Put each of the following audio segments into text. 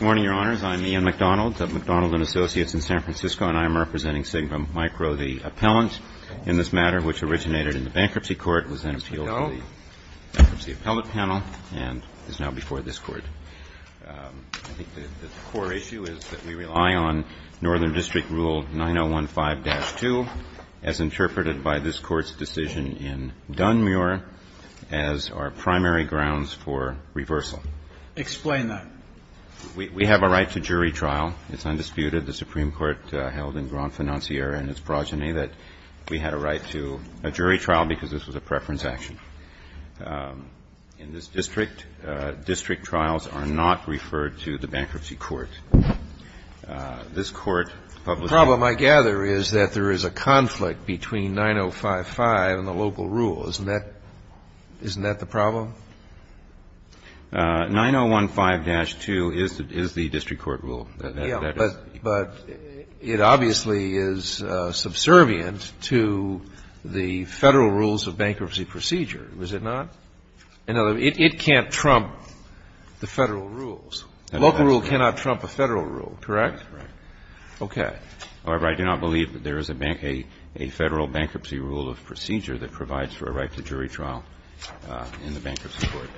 Morning, Your Honors. I'm Ian McDonald of McDonald & Associates in San Francisco, and I am representing Sigma Micro. The appellant in this matter, which originated in the Bankruptcy Court, was then appealed to the Bankruptcy Appellate Panel and is now before this Court. I think the core issue is that we rely on Northern District Rule 9015-2, as interpreted by this Court's decision in Dunmuir, as our primary grounds for reversal. Explain that. We have a right to jury trial. It's undisputed. The Supreme Court held in Grand Financier and its progeny that we had a right to a jury trial because this was a preference action. In this district, district trials are not referred to the Bankruptcy Court. This Court publicized The problem, I gather, is that there is a conflict between 9055 and the local rule. Isn't that the problem? 9015-2 is the district court rule. But it obviously is subservient to the Federal rules of bankruptcy procedure. Is it not? In other words, it can't trump the Federal rules. The local rule cannot trump a Federal rule, correct? Right. Okay. However, I do not believe that there is a Federal bankruptcy rule of procedure that provides for a right to jury trial in the Bankruptcy Court.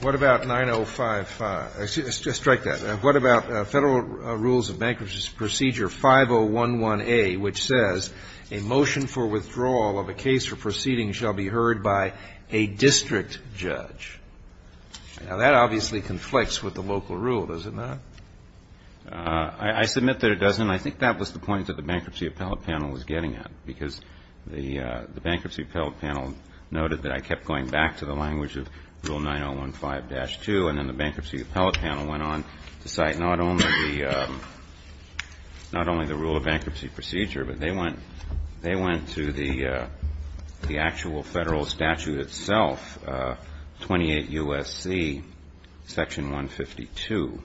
What about 9055? Strike that. What about Federal rules of bankruptcy procedure 5011A, which says a motion for withdrawal of a case or proceeding shall be heard by a district judge? Now, that obviously conflicts with the local rule, does it not? I submit that it doesn't. I think that was the point that the Bankruptcy Appellate Panel noted, that I kept going back to the language of Rule 9015-2, and then the Bankruptcy Appellate Panel went on to cite not only the rule of bankruptcy procedure, but they went to the actual Federal statute itself, 28 U.S.C. Section 152.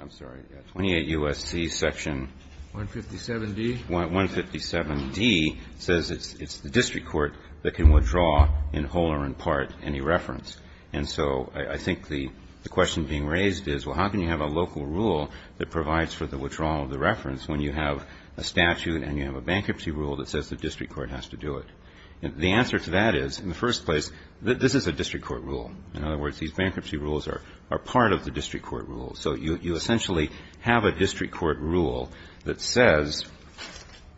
I'm sorry, 28 U.S.C. Section 157D? Section 157D says it's the district court that can withdraw in whole or in part any reference. And so I think the question being raised is, well, how can you have a local rule that provides for the withdrawal of the reference when you have a statute and you have a bankruptcy rule that says the district court has to do it? The answer to that is, in the first place, this is a district court rule. In other words, these bankruptcy rules are part of the district court rule. So you essentially have a district court rule that says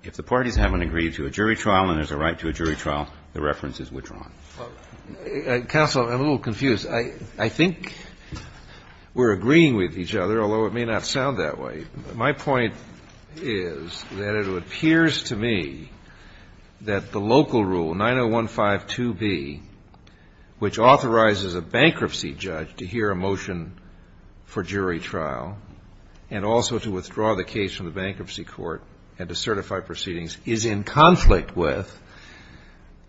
if the parties haven't agreed to a jury trial and there's a right to a jury trial, the reference is withdrawn. Counsel, I'm a little confused. I think we're agreeing with each other, although it may not sound that way. My point is that it appears to me that the local rule, 90152B, which authorizes a bankruptcy judge to hear a motion for jury trial and also to withdraw the case from the bankruptcy court and to certify proceedings, is in conflict with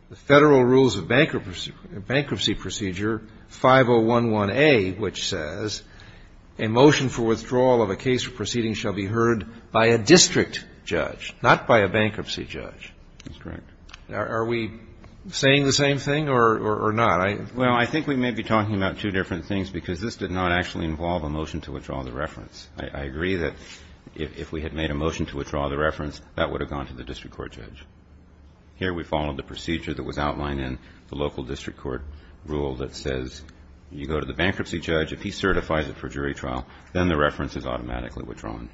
the Federal Rules of Bankruptcy Procedure 5011A, which says a motion for withdrawal of a case or proceeding shall be heard by a district judge, not by a bankruptcy judge. That's correct. Are we saying the same thing or not? Well, I think we may be talking about two different things because this did not actually involve a motion to withdraw the reference. I agree that if we had made a motion to withdraw the reference, that would have gone to the district court judge. Here we followed the procedure that was outlined in the local district court rule that says you go to the bankruptcy judge, if he certifies it for jury trial, then the reference is automatically withdrawn.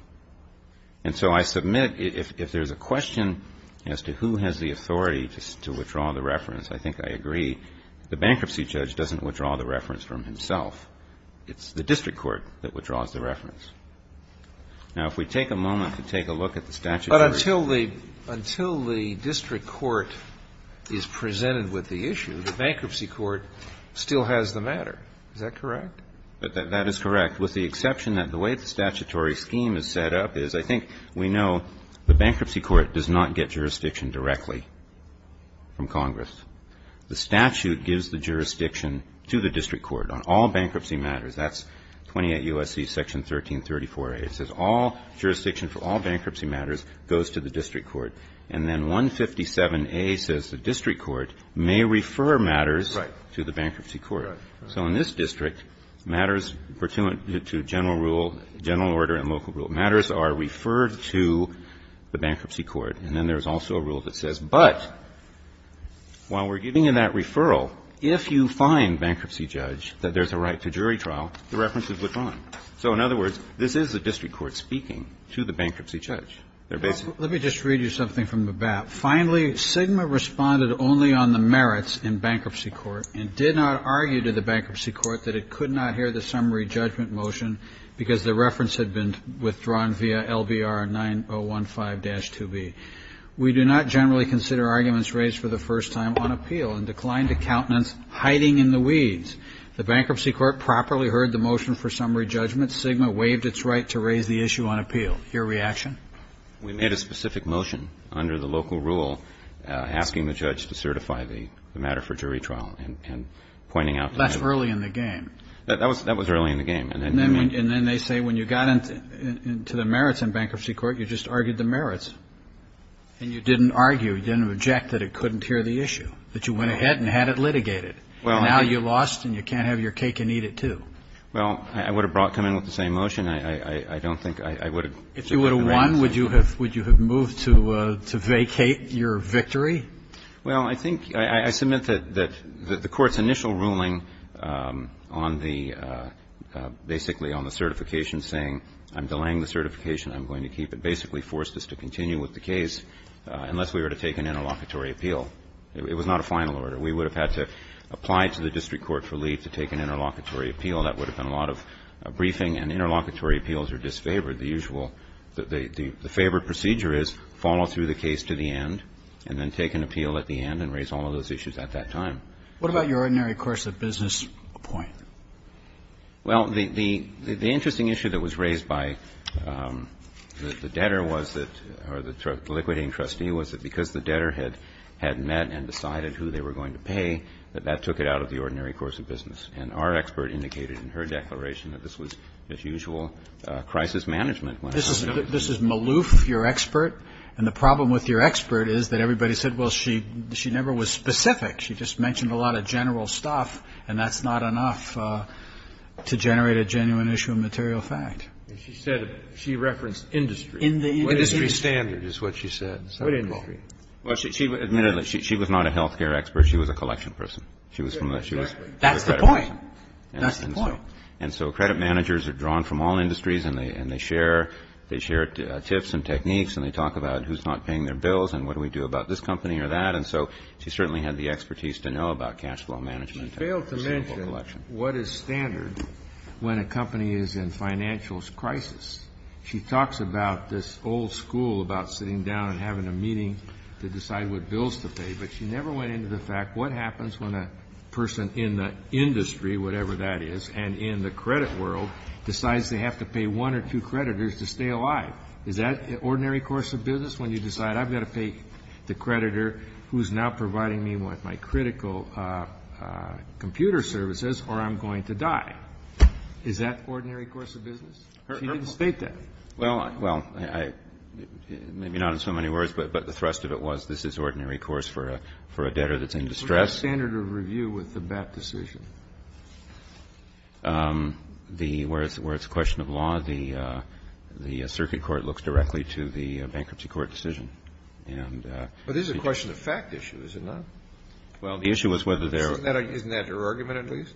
And so I submit if there's a question as to who has the authority to withdraw the reference, I think I agree. The bankruptcy judge doesn't withdraw the reference from himself. It's the district court that withdraws the reference. Now, if we take a moment to take a look at the statutory rules. But until the district court is presented with the issue, the bankruptcy court still has the matter. Is that correct? That is correct. With the exception that the way the statutory scheme is set up is I think we know the bankruptcy court does not get jurisdiction directly from Congress. The statute gives the jurisdiction to the district court on all bankruptcy matters. That's 28 U.S.C. Section 1334a. It says all jurisdiction for all bankruptcy matters goes to the district court. And then 157a says the district court may refer matters to the bankruptcy court. Right. So in this district, matters pertinent to general rule, general order and local rule matters are referred to the bankruptcy court. And then there's also a rule that says, but while we're giving you that referral, if you find bankruptcy judge that there's a right to jury trial, the reference is withdrawn. So in other words, this is the district court speaking to the bankruptcy judge. They're basically ---- Let me just read you something from the BAP. Finally, SGMA responded only on the merits in bankruptcy court and did not argue to the bankruptcy court that it could not hear the summary judgment motion because the reference had been withdrawn via LBR 9015-2B. We do not generally consider arguments raised for the first time on appeal and declined to countenance hiding in the weeds. The bankruptcy court properly heard the motion for summary judgment. SGMA waived its right to raise the issue on appeal. Your reaction? We made a specific motion under the local rule asking the judge to certify the matter for jury trial and pointing out that ---- That's early in the game. That was early in the game. And then they say when you got into the merits in bankruptcy court, you just argued the merits. And you didn't argue, you didn't object that it couldn't hear the issue, that you went ahead and had it litigated. And now you lost and you can't have your cake and eat it, too. Well, I would have brought ---- come in with the same motion. I don't think ---- If you would have won, would you have moved to vacate your victory? Well, I think ---- I submit that the Court's initial ruling on the ---- basically on the certification saying I'm delaying the certification, I'm going to keep it, basically forced us to continue with the case unless we were to take an interlocutory appeal. It was not a final order. We would have had to apply to the district court for leave to take an interlocutory appeal. That would have been a lot of briefing and interlocutory appeals are disfavored. The usual ---- the favored procedure is follow through the case to the end and then take an appeal at the end and raise all of those issues at that time. What about your ordinary course of business point? Well, the interesting issue that was raised by the debtor was that or the liquidating trustee was that because the debtor had met and decided who they were going to pay, that that took it out of the ordinary course of business. And our expert indicated in her declaration that this was, as usual, crisis management when it happened. This is Maloof, your expert, and the problem with your expert is that everybody said, well, she never was specific. She just mentioned a lot of general stuff, and that's not enough to generate a genuine issue of material fact. She said she referenced industry. In the industry. Industry standard is what she said. What industry? Admittedly, she was not a health care expert. She was a collection person. She was from a ---- That's the point. That's the point. And so credit managers are drawn from all industries, and they share tips and techniques, and they talk about who's not paying their bills and what do we do about this company or that. And so she certainly had the expertise to know about cash flow management. She failed to mention what is standard when a company is in financials crisis. She talks about this old school about sitting down and having a meeting to decide what bills to pay, but she never went into the fact what happens when a person in the industry, whatever that is, and in the credit world decides they have to pay one or two creditors to stay alive. Is that ordinary course of business when you decide I've got to pay the creditor who's now providing me with my critical computer services or I'm going to die? Is that ordinary course of business? She didn't state that. Well, I ---- Maybe not in so many words, but the thrust of it was this is ordinary course for a debtor that's in distress. What's the standard of review with the BAPT decision? The ---- where it's a question of law, the circuit court looks directly to the bankruptcy court decision. And ---- But this is a question of fact issue, is it not? Well, the issue is whether there are ---- Isn't that her argument at least?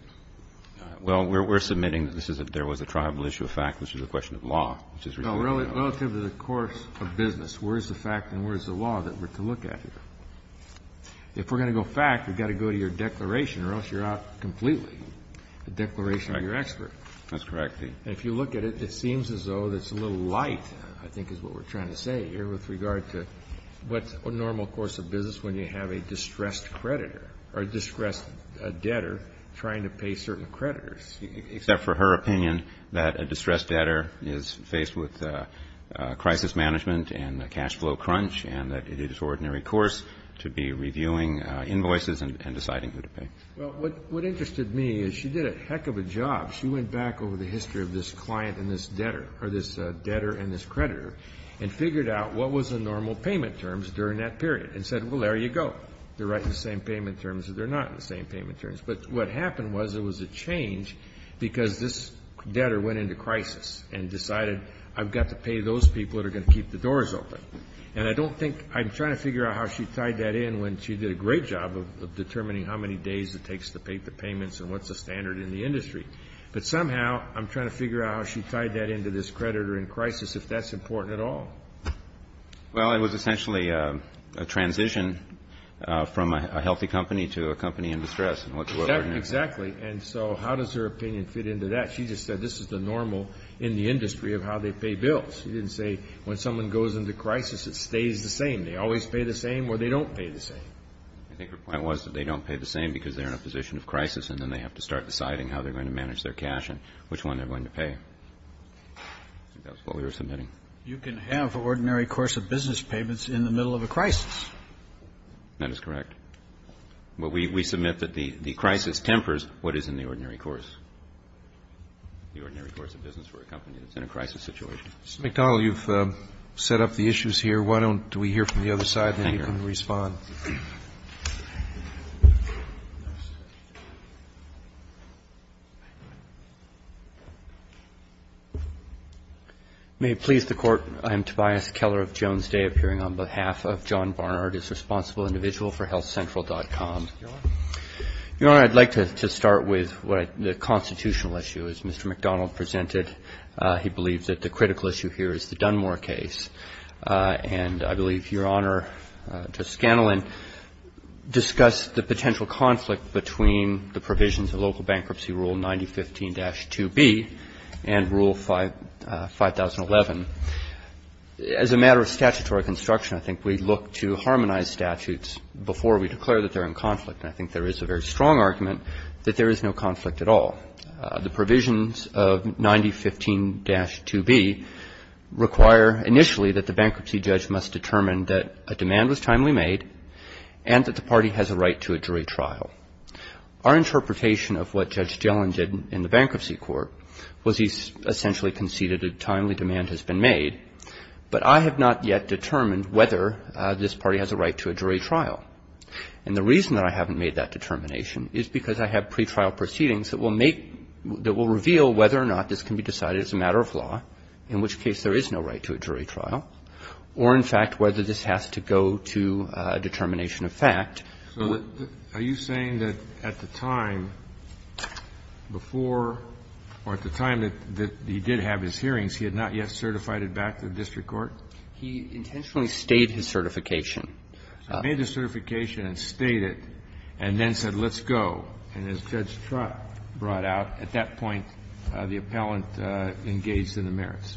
Well, we're submitting that this is a ---- there was a tribal issue of fact, which is a question of law. Well, relative to the course of business, where is the fact and where is the law that we're to look at here? If we're going to go fact, we've got to go to your declaration or else you're out completely, the declaration of your expert. That's correct. And if you look at it, it seems as though it's a little light I think is what we're trying to say here with regard to what's a normal course of business when you have a distressed creditor or distressed debtor trying to pay certain creditors. Except for her opinion that a distressed debtor is faced with crisis management and a cash flow crunch and that it is an ordinary course to be reviewing invoices and deciding who to pay. Well, what interested me is she did a heck of a job. She went back over the history of this client and this debtor or this debtor and this creditor and figured out what was the normal payment terms during that period and said, well, there you go. They're right in the same payment terms or they're not in the same payment terms. But what happened was there was a change because this debtor went into crisis and decided I've got to pay those people that are going to keep the doors open. And I don't think – I'm trying to figure out how she tied that in when she did a great job of determining how many days it takes to pay the payments and what's the standard in the industry. But somehow I'm trying to figure out how she tied that into this creditor in crisis, if that's important at all. Well, it was essentially a transition from a healthy company to a company in distress Exactly. And so how does her opinion fit into that? She just said this is the normal in the industry of how they pay bills. She didn't say when someone goes into crisis it stays the same. They always pay the same or they don't pay the same. I think her point was that they don't pay the same because they're in a position of crisis and then they have to start deciding how they're going to manage their cash and which one they're going to pay. I think that was what we were submitting. You can have ordinary course of business payments in the middle of a crisis. That is correct. Well, we submit that the crisis tempers what is in the ordinary course, the ordinary course of business for a company that's in a crisis situation. Mr. McDonald, you've set up the issues here. Why don't we hear from the other side and then you can respond. May it please the Court, I am Tobias Keller of Jones Day appearing on behalf of John Barnard, a responsible individual for healthcentral.com. Your Honor, I'd like to start with the constitutional issue. As Mr. McDonald presented, he believes that the critical issue here is the Dunmore case. And I believe, Your Honor, Judge Scanlon discussed the potential conflict between the provisions of local bankruptcy rule 9015-2B and rule 5011. As a matter of statutory construction, I think we look to harmonize statutes before we declare that they're in conflict. And I think there is a very strong argument that there is no conflict at all. The provisions of 9015-2B require initially that the bankruptcy judge must determine that a demand was timely made and that the party has a right to a jury trial. Our interpretation of what Judge Jellin did in the bankruptcy court was he essentially conceded that a timely demand has been made. But I have not yet determined whether this party has a right to a jury trial. And the reason that I haven't made that determination is because I have pretrial proceedings that will make — that will reveal whether or not this can be decided as a matter of law, in which case there is no right to a jury trial, or, in fact, whether this has to go to a determination of fact. Kennedy. So are you saying that at the time before, or at the time that he did have his hearings, he had not yet certified it back to the district court? He intentionally stayed his certification. So he made the certification and stayed it and then said, let's go. And as Judge Trott brought out, at that point, the appellant engaged in the merits.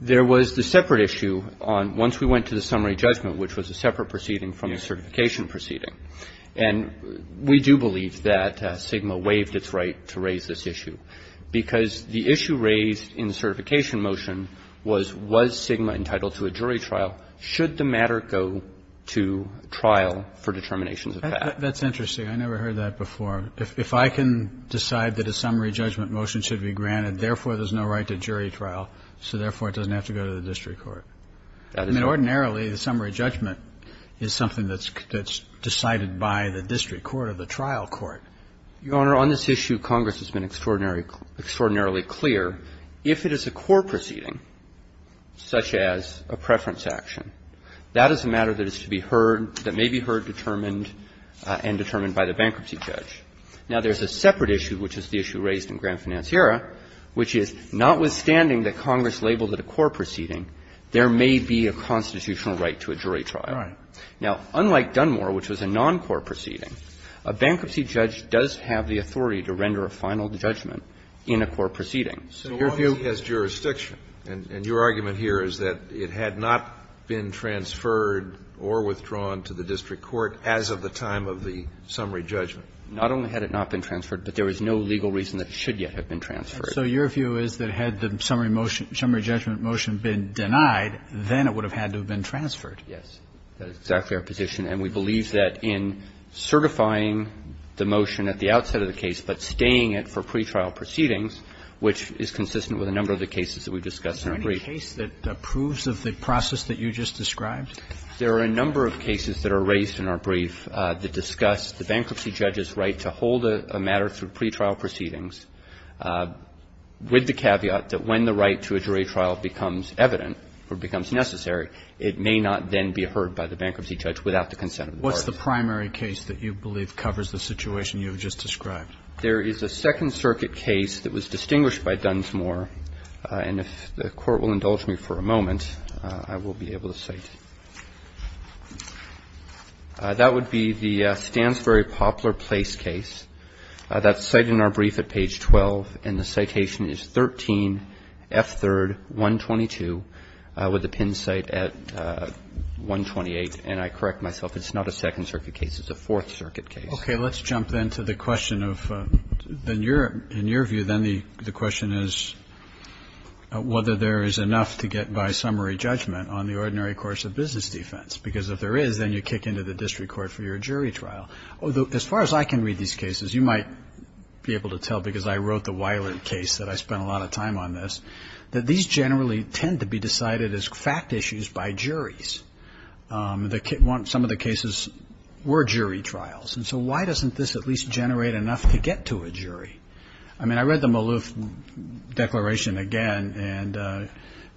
There was the separate issue on — once we went to the summary judgment, which was a separate proceeding from the certification proceeding. And we do believe that SGMA waived its right to raise this issue, because the issue raised in the certification motion was, was SGMA entitled to a jury trial? Should the matter go to trial for determinations of fact? That's interesting. I never heard that before. If I can decide that a summary judgment motion should be granted, therefore, there's no right to jury trial, so, therefore, it doesn't have to go to the district I mean, ordinarily, the summary judgment is something that's decided by the district court or the trial court. Your Honor, on this issue, Congress has been extraordinarily clear. If it is a core proceeding, such as a preference action, that is a matter that is to be heard, that may be heard, determined, and determined by the bankruptcy judge. Now, there's a separate issue, which is the issue raised in Grand Financiera, which is, notwithstanding that Congress labeled it a core proceeding, there may be a constitutional right to a jury trial. Now, unlike Dunmore, which was a non-core proceeding, a bankruptcy judge does have the authority to render a final judgment in a core proceeding. So your view is jurisdiction, and your argument here is that it had not been transferred or withdrawn to the district court as of the time of the summary judgment? Not only had it not been transferred, but there is no legal reason that it should yet have been transferred. And so your view is that had the summary motion, summary judgment motion been denied, then it would have had to have been transferred? Yes. That is exactly our position. And we believe that in certifying the motion at the outset of the case, but staying it for pretrial proceedings, which is consistent with a number of the cases that we've discussed in our brief. Is there any case that approves of the process that you just described? There are a number of cases that are raised in our brief that discuss the bankruptcy judge's right to hold a matter through pretrial proceedings, with the caveat that when the right to a jury trial becomes evident or becomes necessary, it may not then be heard by the bankruptcy judge without the consent of the parties. What's the primary case that you believe covers the situation you have just described? There is a Second Circuit case that was distinguished by Dunmore, and if the Court will indulge me for a moment, I will be able to cite. That would be the Stansbury-Poplar Place case. That's cited in our brief at page 12, and the citation is 13F3rd.122, with the pin cite at 128. And I correct myself. It's not a Second Circuit case. It's a Fourth Circuit case. Okay. Let's jump then to the question of the near view. Then the question is whether there is enough to get by summary judgment on the ordinary course of business defense, because if there is, then you kick into the district court for your jury trial. As far as I can read these cases, you might be able to tell because I wrote the Wiley case that I spent a lot of time on this, that these generally tend to be decided as fact issues by juries. Some of the cases were jury trials, and so why doesn't this at least generate enough to get to a jury? I mean, I read the Maloof Declaration again, and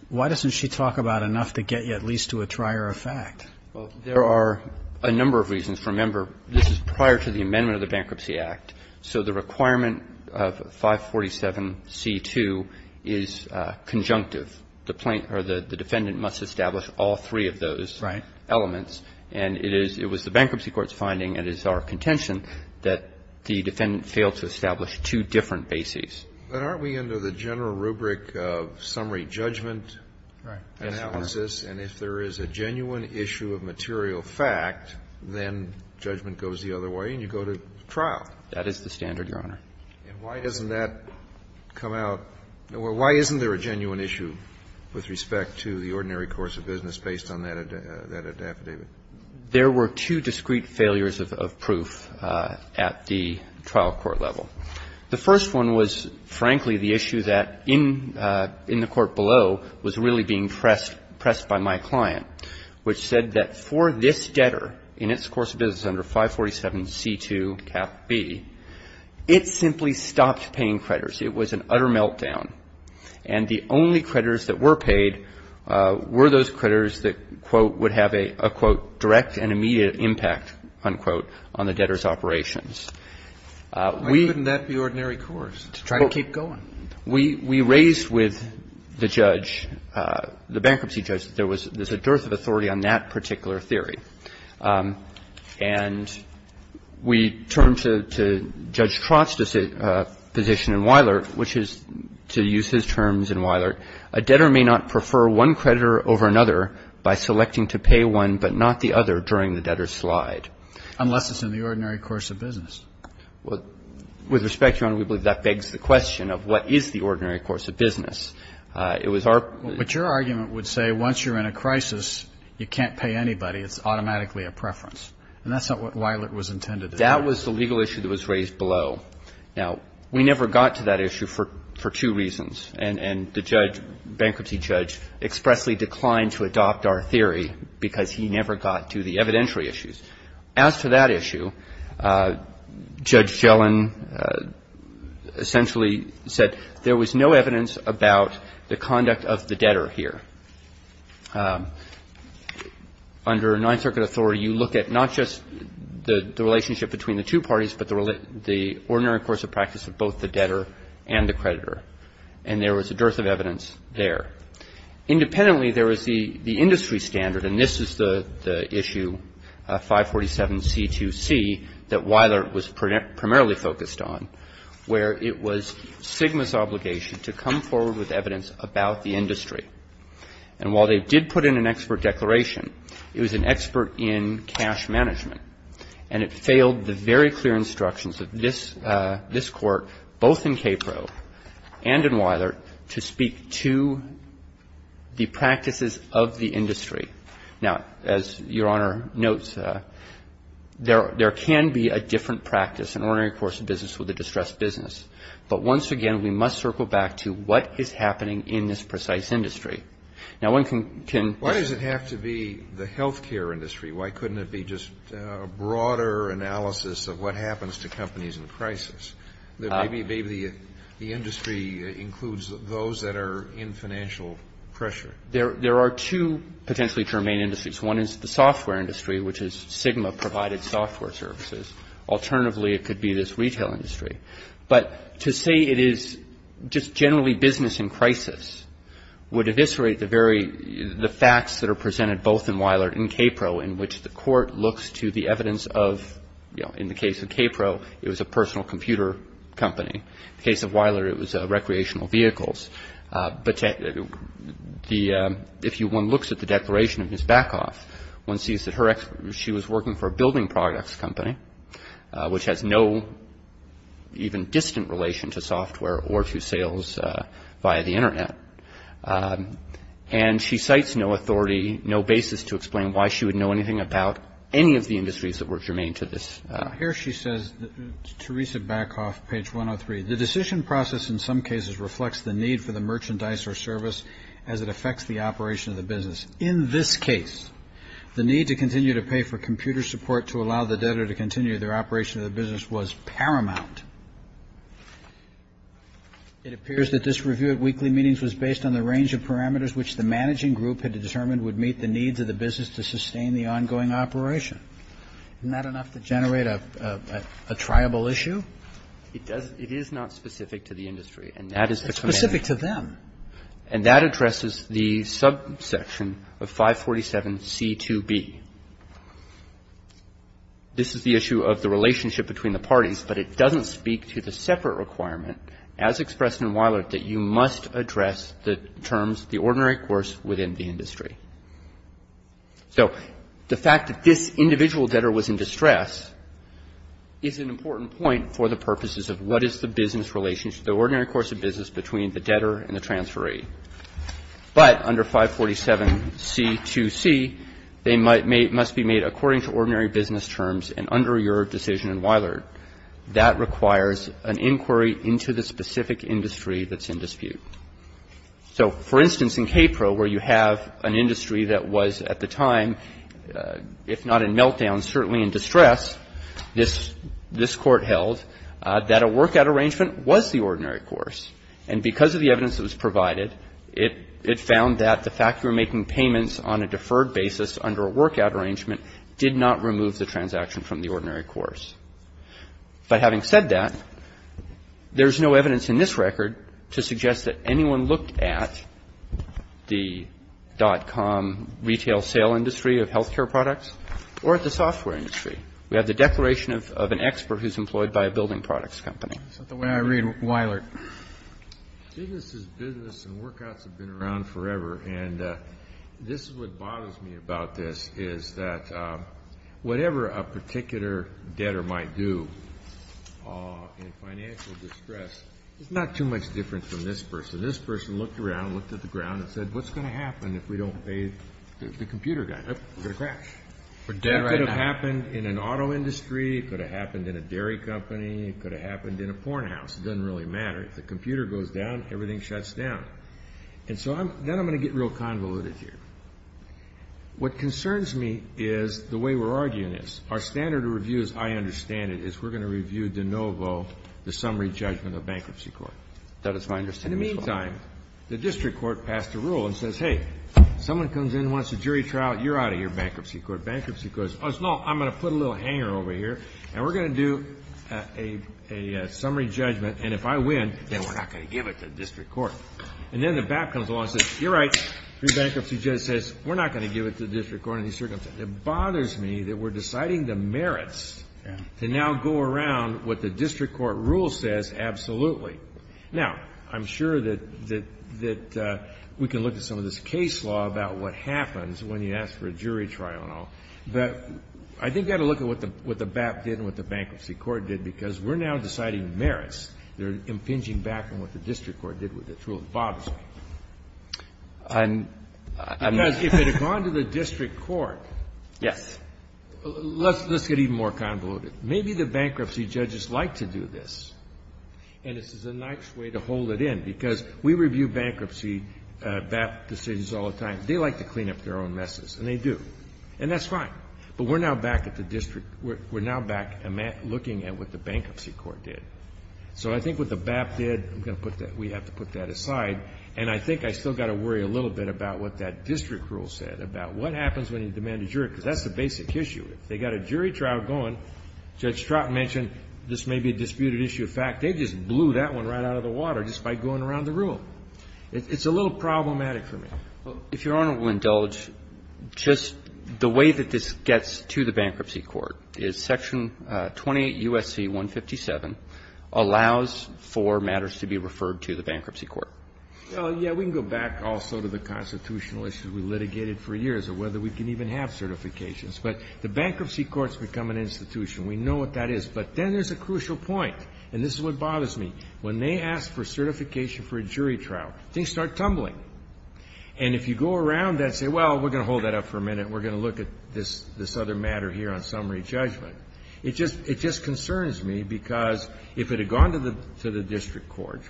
why doesn't she talk about enough to get you at least to a trier of fact? Well, there are a number of reasons. Remember, this is prior to the amendment of the Bankruptcy Act. So the requirement of 547C2 is conjunctive. The plaintiff or the defendant must establish all three of those elements. And it is the bankruptcy court's finding, and it is our contention, that the defendant failed to establish two different bases. But aren't we into the general rubric of summary judgment analysis? And if there is a genuine issue of material fact, then judgment goes the other way and you go to trial. That is the standard, Your Honor. And why doesn't that come out? Why isn't there a genuine issue with respect to the ordinary course of business based on that affidavit? There were two discrete failures of proof at the trial court level. The first one was, frankly, the issue that in the court below was really being pressed by my client, which said that for this debtor, in its course of business under 547C2 Cap B, it simply stopped paying creditors. It was an utter meltdown. And the only creditors that were paid were those creditors that, quote, would have a, quote, direct and immediate impact, unquote, on the debtor's operations. Why couldn't that be ordinary course, to try to keep going? We raised with the judge, the bankruptcy judge, that there was a dearth of authority on that particular theory. And we turned to Judge Trost's position in Weiler, which is to use his terms in Weiler. A debtor may not prefer one creditor over another by selecting to pay one but not the other during the debtor's slide. Unless it's in the ordinary course of business. With respect, Your Honor, we believe that begs the question of what is the ordinary course of business. It was our But your argument would say once you're in a crisis, you can't pay anybody. It's automatically a preference. And that's not what Weiler was intended to do. That was the legal issue that was raised below. Now, we never got to that issue for two reasons. And the judge, bankruptcy judge, expressly declined to adopt our theory because he never got to the evidentiary issues. As for that issue, Judge Gellin essentially said there was no evidence about the conduct of the debtor here. Under Ninth Circuit authority, you look at not just the relationship between the two parties but the ordinary course of practice of both the debtor and the creditor. And there was a dearth of evidence there. Independently, there was the industry standard, and this is the issue, 547C2C, that Weiler was primarily focused on, where it was Sigma's obligation to come forward with evidence about the industry. And while they did put in an expert declaration, it was an expert in cash management. And it failed the very clear instructions of this Court, both in Capro and in Weiler, to speak to the practices of the industry. Now, as Your Honor notes, there can be a different practice, an ordinary course of business with a distressed business. But once again, we must circle back to what is happening in this precise industry. Now, one can can Why does it have to be the health care industry? Why couldn't it be just a broader analysis of what happens to companies in crisis? Maybe the industry includes those that are in financial pressure. There are two potentially germane industries. One is the software industry, which is Sigma provided software services. Alternatively, it could be this retail industry. But to say it is just generally business in crisis would eviscerate the very the facts that are presented both in Weiler and Capro, in which the Court looks to the evidence of, you know, in the case of Capro, it was a personal computer company. In the case of Weiler, it was recreational vehicles. But if one looks at the declaration of Ms. Backoff, one sees that she was working for a building products company, which has no even distant relation to software or to sales via the Internet. And she cites no authority, no basis to explain why she would know anything about any of the industries that were germane to this. Here she says, Teresa Backoff, page 103, the decision process in some cases reflects the need for the merchandise or service as it affects the operation of the business. In this case, the need to continue to pay for computer support to allow the debtor to continue their operation of the business was paramount. It appears that this review at weekly meetings was based on the range of parameters which the managing group had determined would meet the needs of the business to sustain the ongoing operation. Isn't that enough to generate a triable issue? It is not specific to the industry. And that is the commandment. It's specific to them. And that addresses the subsection of 547C2B. This is the issue of the relationship between the parties, but it doesn't speak to the separate requirement, as expressed in Weilert, that you must address the terms of the ordinary course within the industry. So the fact that this individual debtor was in distress is an important point for the purposes of what is the business relationship, the ordinary course of business between the debtor and the transferee. But under 547C2C, they must be made according to ordinary business terms and under your decision in Weilert. That requires an inquiry into the specific industry that's in dispute. So, for instance, in KPRO, where you have an industry that was at the time, if not in meltdown, certainly in distress, this Court held that a workout arrangement was the ordinary course. And because of the evidence that was provided, it found that the fact you were making payments on a deferred basis under a workout arrangement did not remove the transaction from the ordinary course. But having said that, there's no evidence in this record to suggest that anyone looked at the dot-com retail sale industry of health care products or at the software industry. We have the declaration of an expert who's employed by a building products company. Kennedy. The way I read Weilert, business is business and workouts have been around forever. And this is what bothers me about this, is that whatever a particular debtor might do in financial distress, it's not too much different from this person. This person looked around, looked at the ground and said, what's going to happen if we don't pay the computer guy? Oh, we're going to crash. It could have happened in an auto industry. It could have happened in a dairy company. It could have happened in a porn house. It doesn't really matter. If the computer goes down, everything shuts down. And so then I'm going to get real convoluted here. What concerns me is the way we're arguing this. Our standard of review, as I understand it, is we're going to review de novo the summary judgment of bankruptcy court. That is my understanding. In the meantime, the district court passed a rule and says, hey, someone comes in and wants a jury trial. You're out of here, bankruptcy court. Bankruptcy court says, no, I'm going to put a little hanger over here and we're going to do a summary judgment. And if I win, then we're not going to give it to district court. And then the BAP comes along and says, you're right, free bankruptcy judge says, we're not going to give it to district court in these circumstances. It bothers me that we're deciding the merits to now go around what the district court rule says, absolutely. Now, I'm sure that we can look at some of this case law about what happens when you ask for a jury trial and all. But I think you got to look at what the BAP did and what the bankruptcy court did, because we're now deciding merits. They're impinging back on what the district court did with the rule. It bothers me. Because if it had gone to the district court, let's get even more convoluted. Maybe the bankruptcy judges like to do this, and this is a nice way to hold it in. Because we review bankruptcy BAP decisions all the time. They like to clean up their own messes, and they do. And that's fine. But we're now back at the district. We're now back looking at what the bankruptcy court did. So I think what the BAP did, we have to put that aside. And I think I still got to worry a little bit about what that district rule said, about what happens when you demand a jury, because that's the basic issue. If they got a jury trial going, Judge Stratton mentioned this may be a disputed issue of fact. They just blew that one right out of the water just by going around the room. It's a little problematic for me. Well, if Your Honor will indulge, just the way that this gets to the bankruptcy court is Section 28 U.S.C. 157 allows for matters to be referred to the bankruptcy court. Well, yeah, we can go back also to the constitutional issues we litigated for years, or whether we can even have certifications. But the bankruptcy courts become an institution. We know what that is. But then there's a crucial point, and this is what bothers me. When they ask for certification for a jury trial, things start tumbling. And if you go around and say, well, we're going to hold that up for a minute, and we're going to look at this other matter here on summary judgment, it just concerns me, because if it had gone to the district court,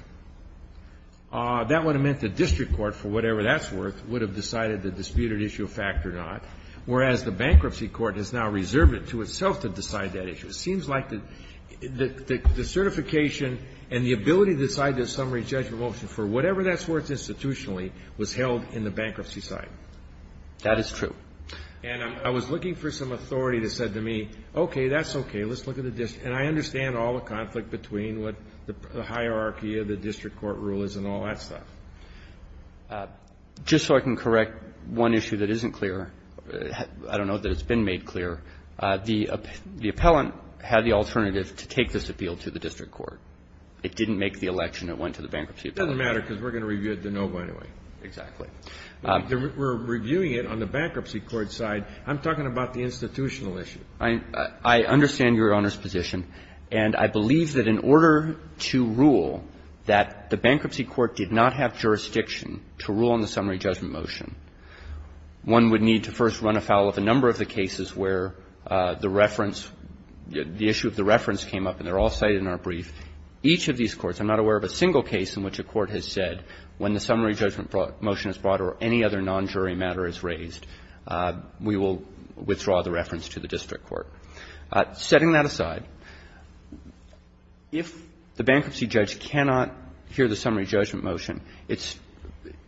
that would have meant the district court, for whatever that's worth, would have decided the disputed issue of fact or not, whereas the bankruptcy court has now reserved it to itself to decide that issue. It seems like the certification and the ability to decide the summary judgment motion for whatever that's worth institutionally was held in the bankruptcy side. That is true. And I was looking for some authority that said to me, okay, that's okay. Let's look at the district. And I understand all the conflict between what the hierarchy of the district court rule is and all that stuff. Just so I can correct one issue that isn't clear, I don't know that it's been made clear. The appellant had the alternative to take this appeal to the district court. It didn't make the election. It went to the bankruptcy appellant. It doesn't matter, because we're going to review it to know, by the way. Exactly. We're reviewing it on the bankruptcy court side. I'm talking about the institutional issue. I understand Your Honor's position. And I believe that in order to rule that the bankruptcy court did not have jurisdiction to the district court, we will withdraw the reference to the district court. Setting that aside, if the bankruptcy judge cannot hear the summary judgment motion, it's –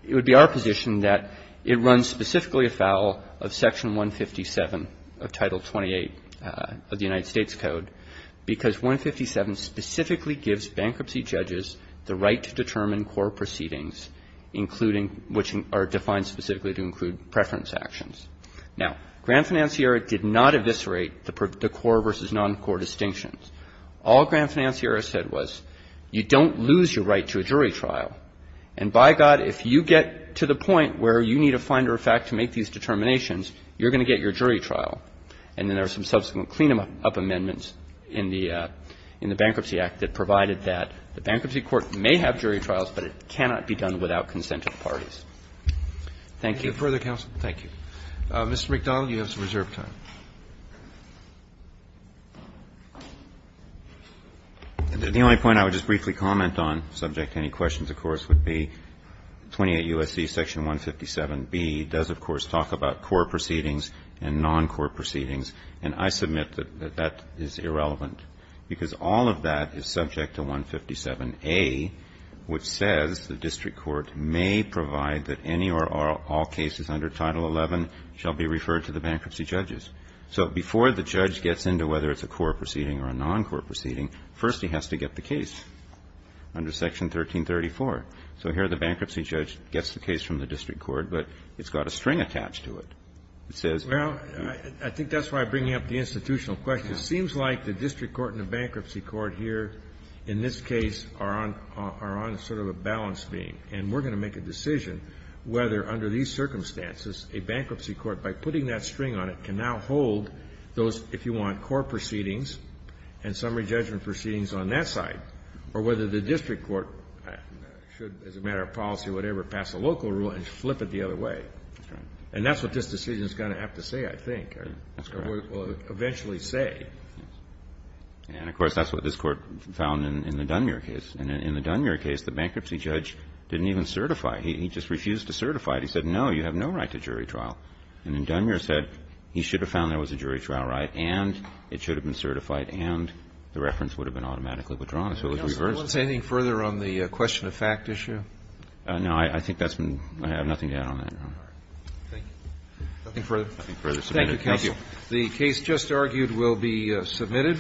it would be our position that it runs specifically afoul of Section 157 of Title 28 of the United States Code, because 157 specifically gives bankruptcy judges the right to determine core proceedings, including – which are defined specifically to include preference actions. Now, Grand Financiera did not eviscerate the core versus non-core distinctions. All Grand Financiera said was, you don't lose your right to a jury trial. And by God, if you get to the point where you need a finder of fact to make these determinations, you're going to get your jury trial. And then there are some subsequent clean-up amendments in the Bankruptcy Act that provided that the bankruptcy court may have jury trials, but it cannot be done without consent of parties. Thank you. Further counsel? Thank you. Mr. McDonnell, you have some reserve time. 28 U.S.C. Section 157B does, of course, talk about core proceedings and non-core proceedings. And I submit that that is irrelevant, because all of that is subject to 157A, which says the district court may provide that any or all cases under Title 11 shall be referred to the bankruptcy judges. So before the judge gets into whether it's a core proceeding or a non-core proceeding, first he has to get the case under Section 1334. So here, the bankruptcy judge gets the case from the district court, but it's got a string attached to it. It says you need to be referred to the bankruptcy judges. Well, I think that's why I bring up the institutional question. It seems like the district court and the bankruptcy court here in this case are on sort of a balance beam. And we're going to make a decision whether, under these circumstances, a bankruptcy court, by putting that string on it, can now hold those, if you want, core proceedings and summary judgment proceedings on that side, or whether the district court should, as a matter of policy or whatever, pass a local rule and flip it the other way. And that's what this decision is going to have to say, I think. Or will eventually say. And, of course, that's what this Court found in the Dunmere case. And in the Dunmere case, the bankruptcy judge didn't even certify. He just refused to certify it. He said, no, you have no right to jury trial. And then Dunmere said he should have found there was a jury trial right and it should have been certified and the reference would have been automatically withdrawn. So it was reversed. Roberts. Do you want to say anything further on the question of fact issue? No. I think that's been – I have nothing to add on that, Your Honor. Thank you. Nothing further? Nothing further submitted. Thank you, counsel. The case just argued will be submitted.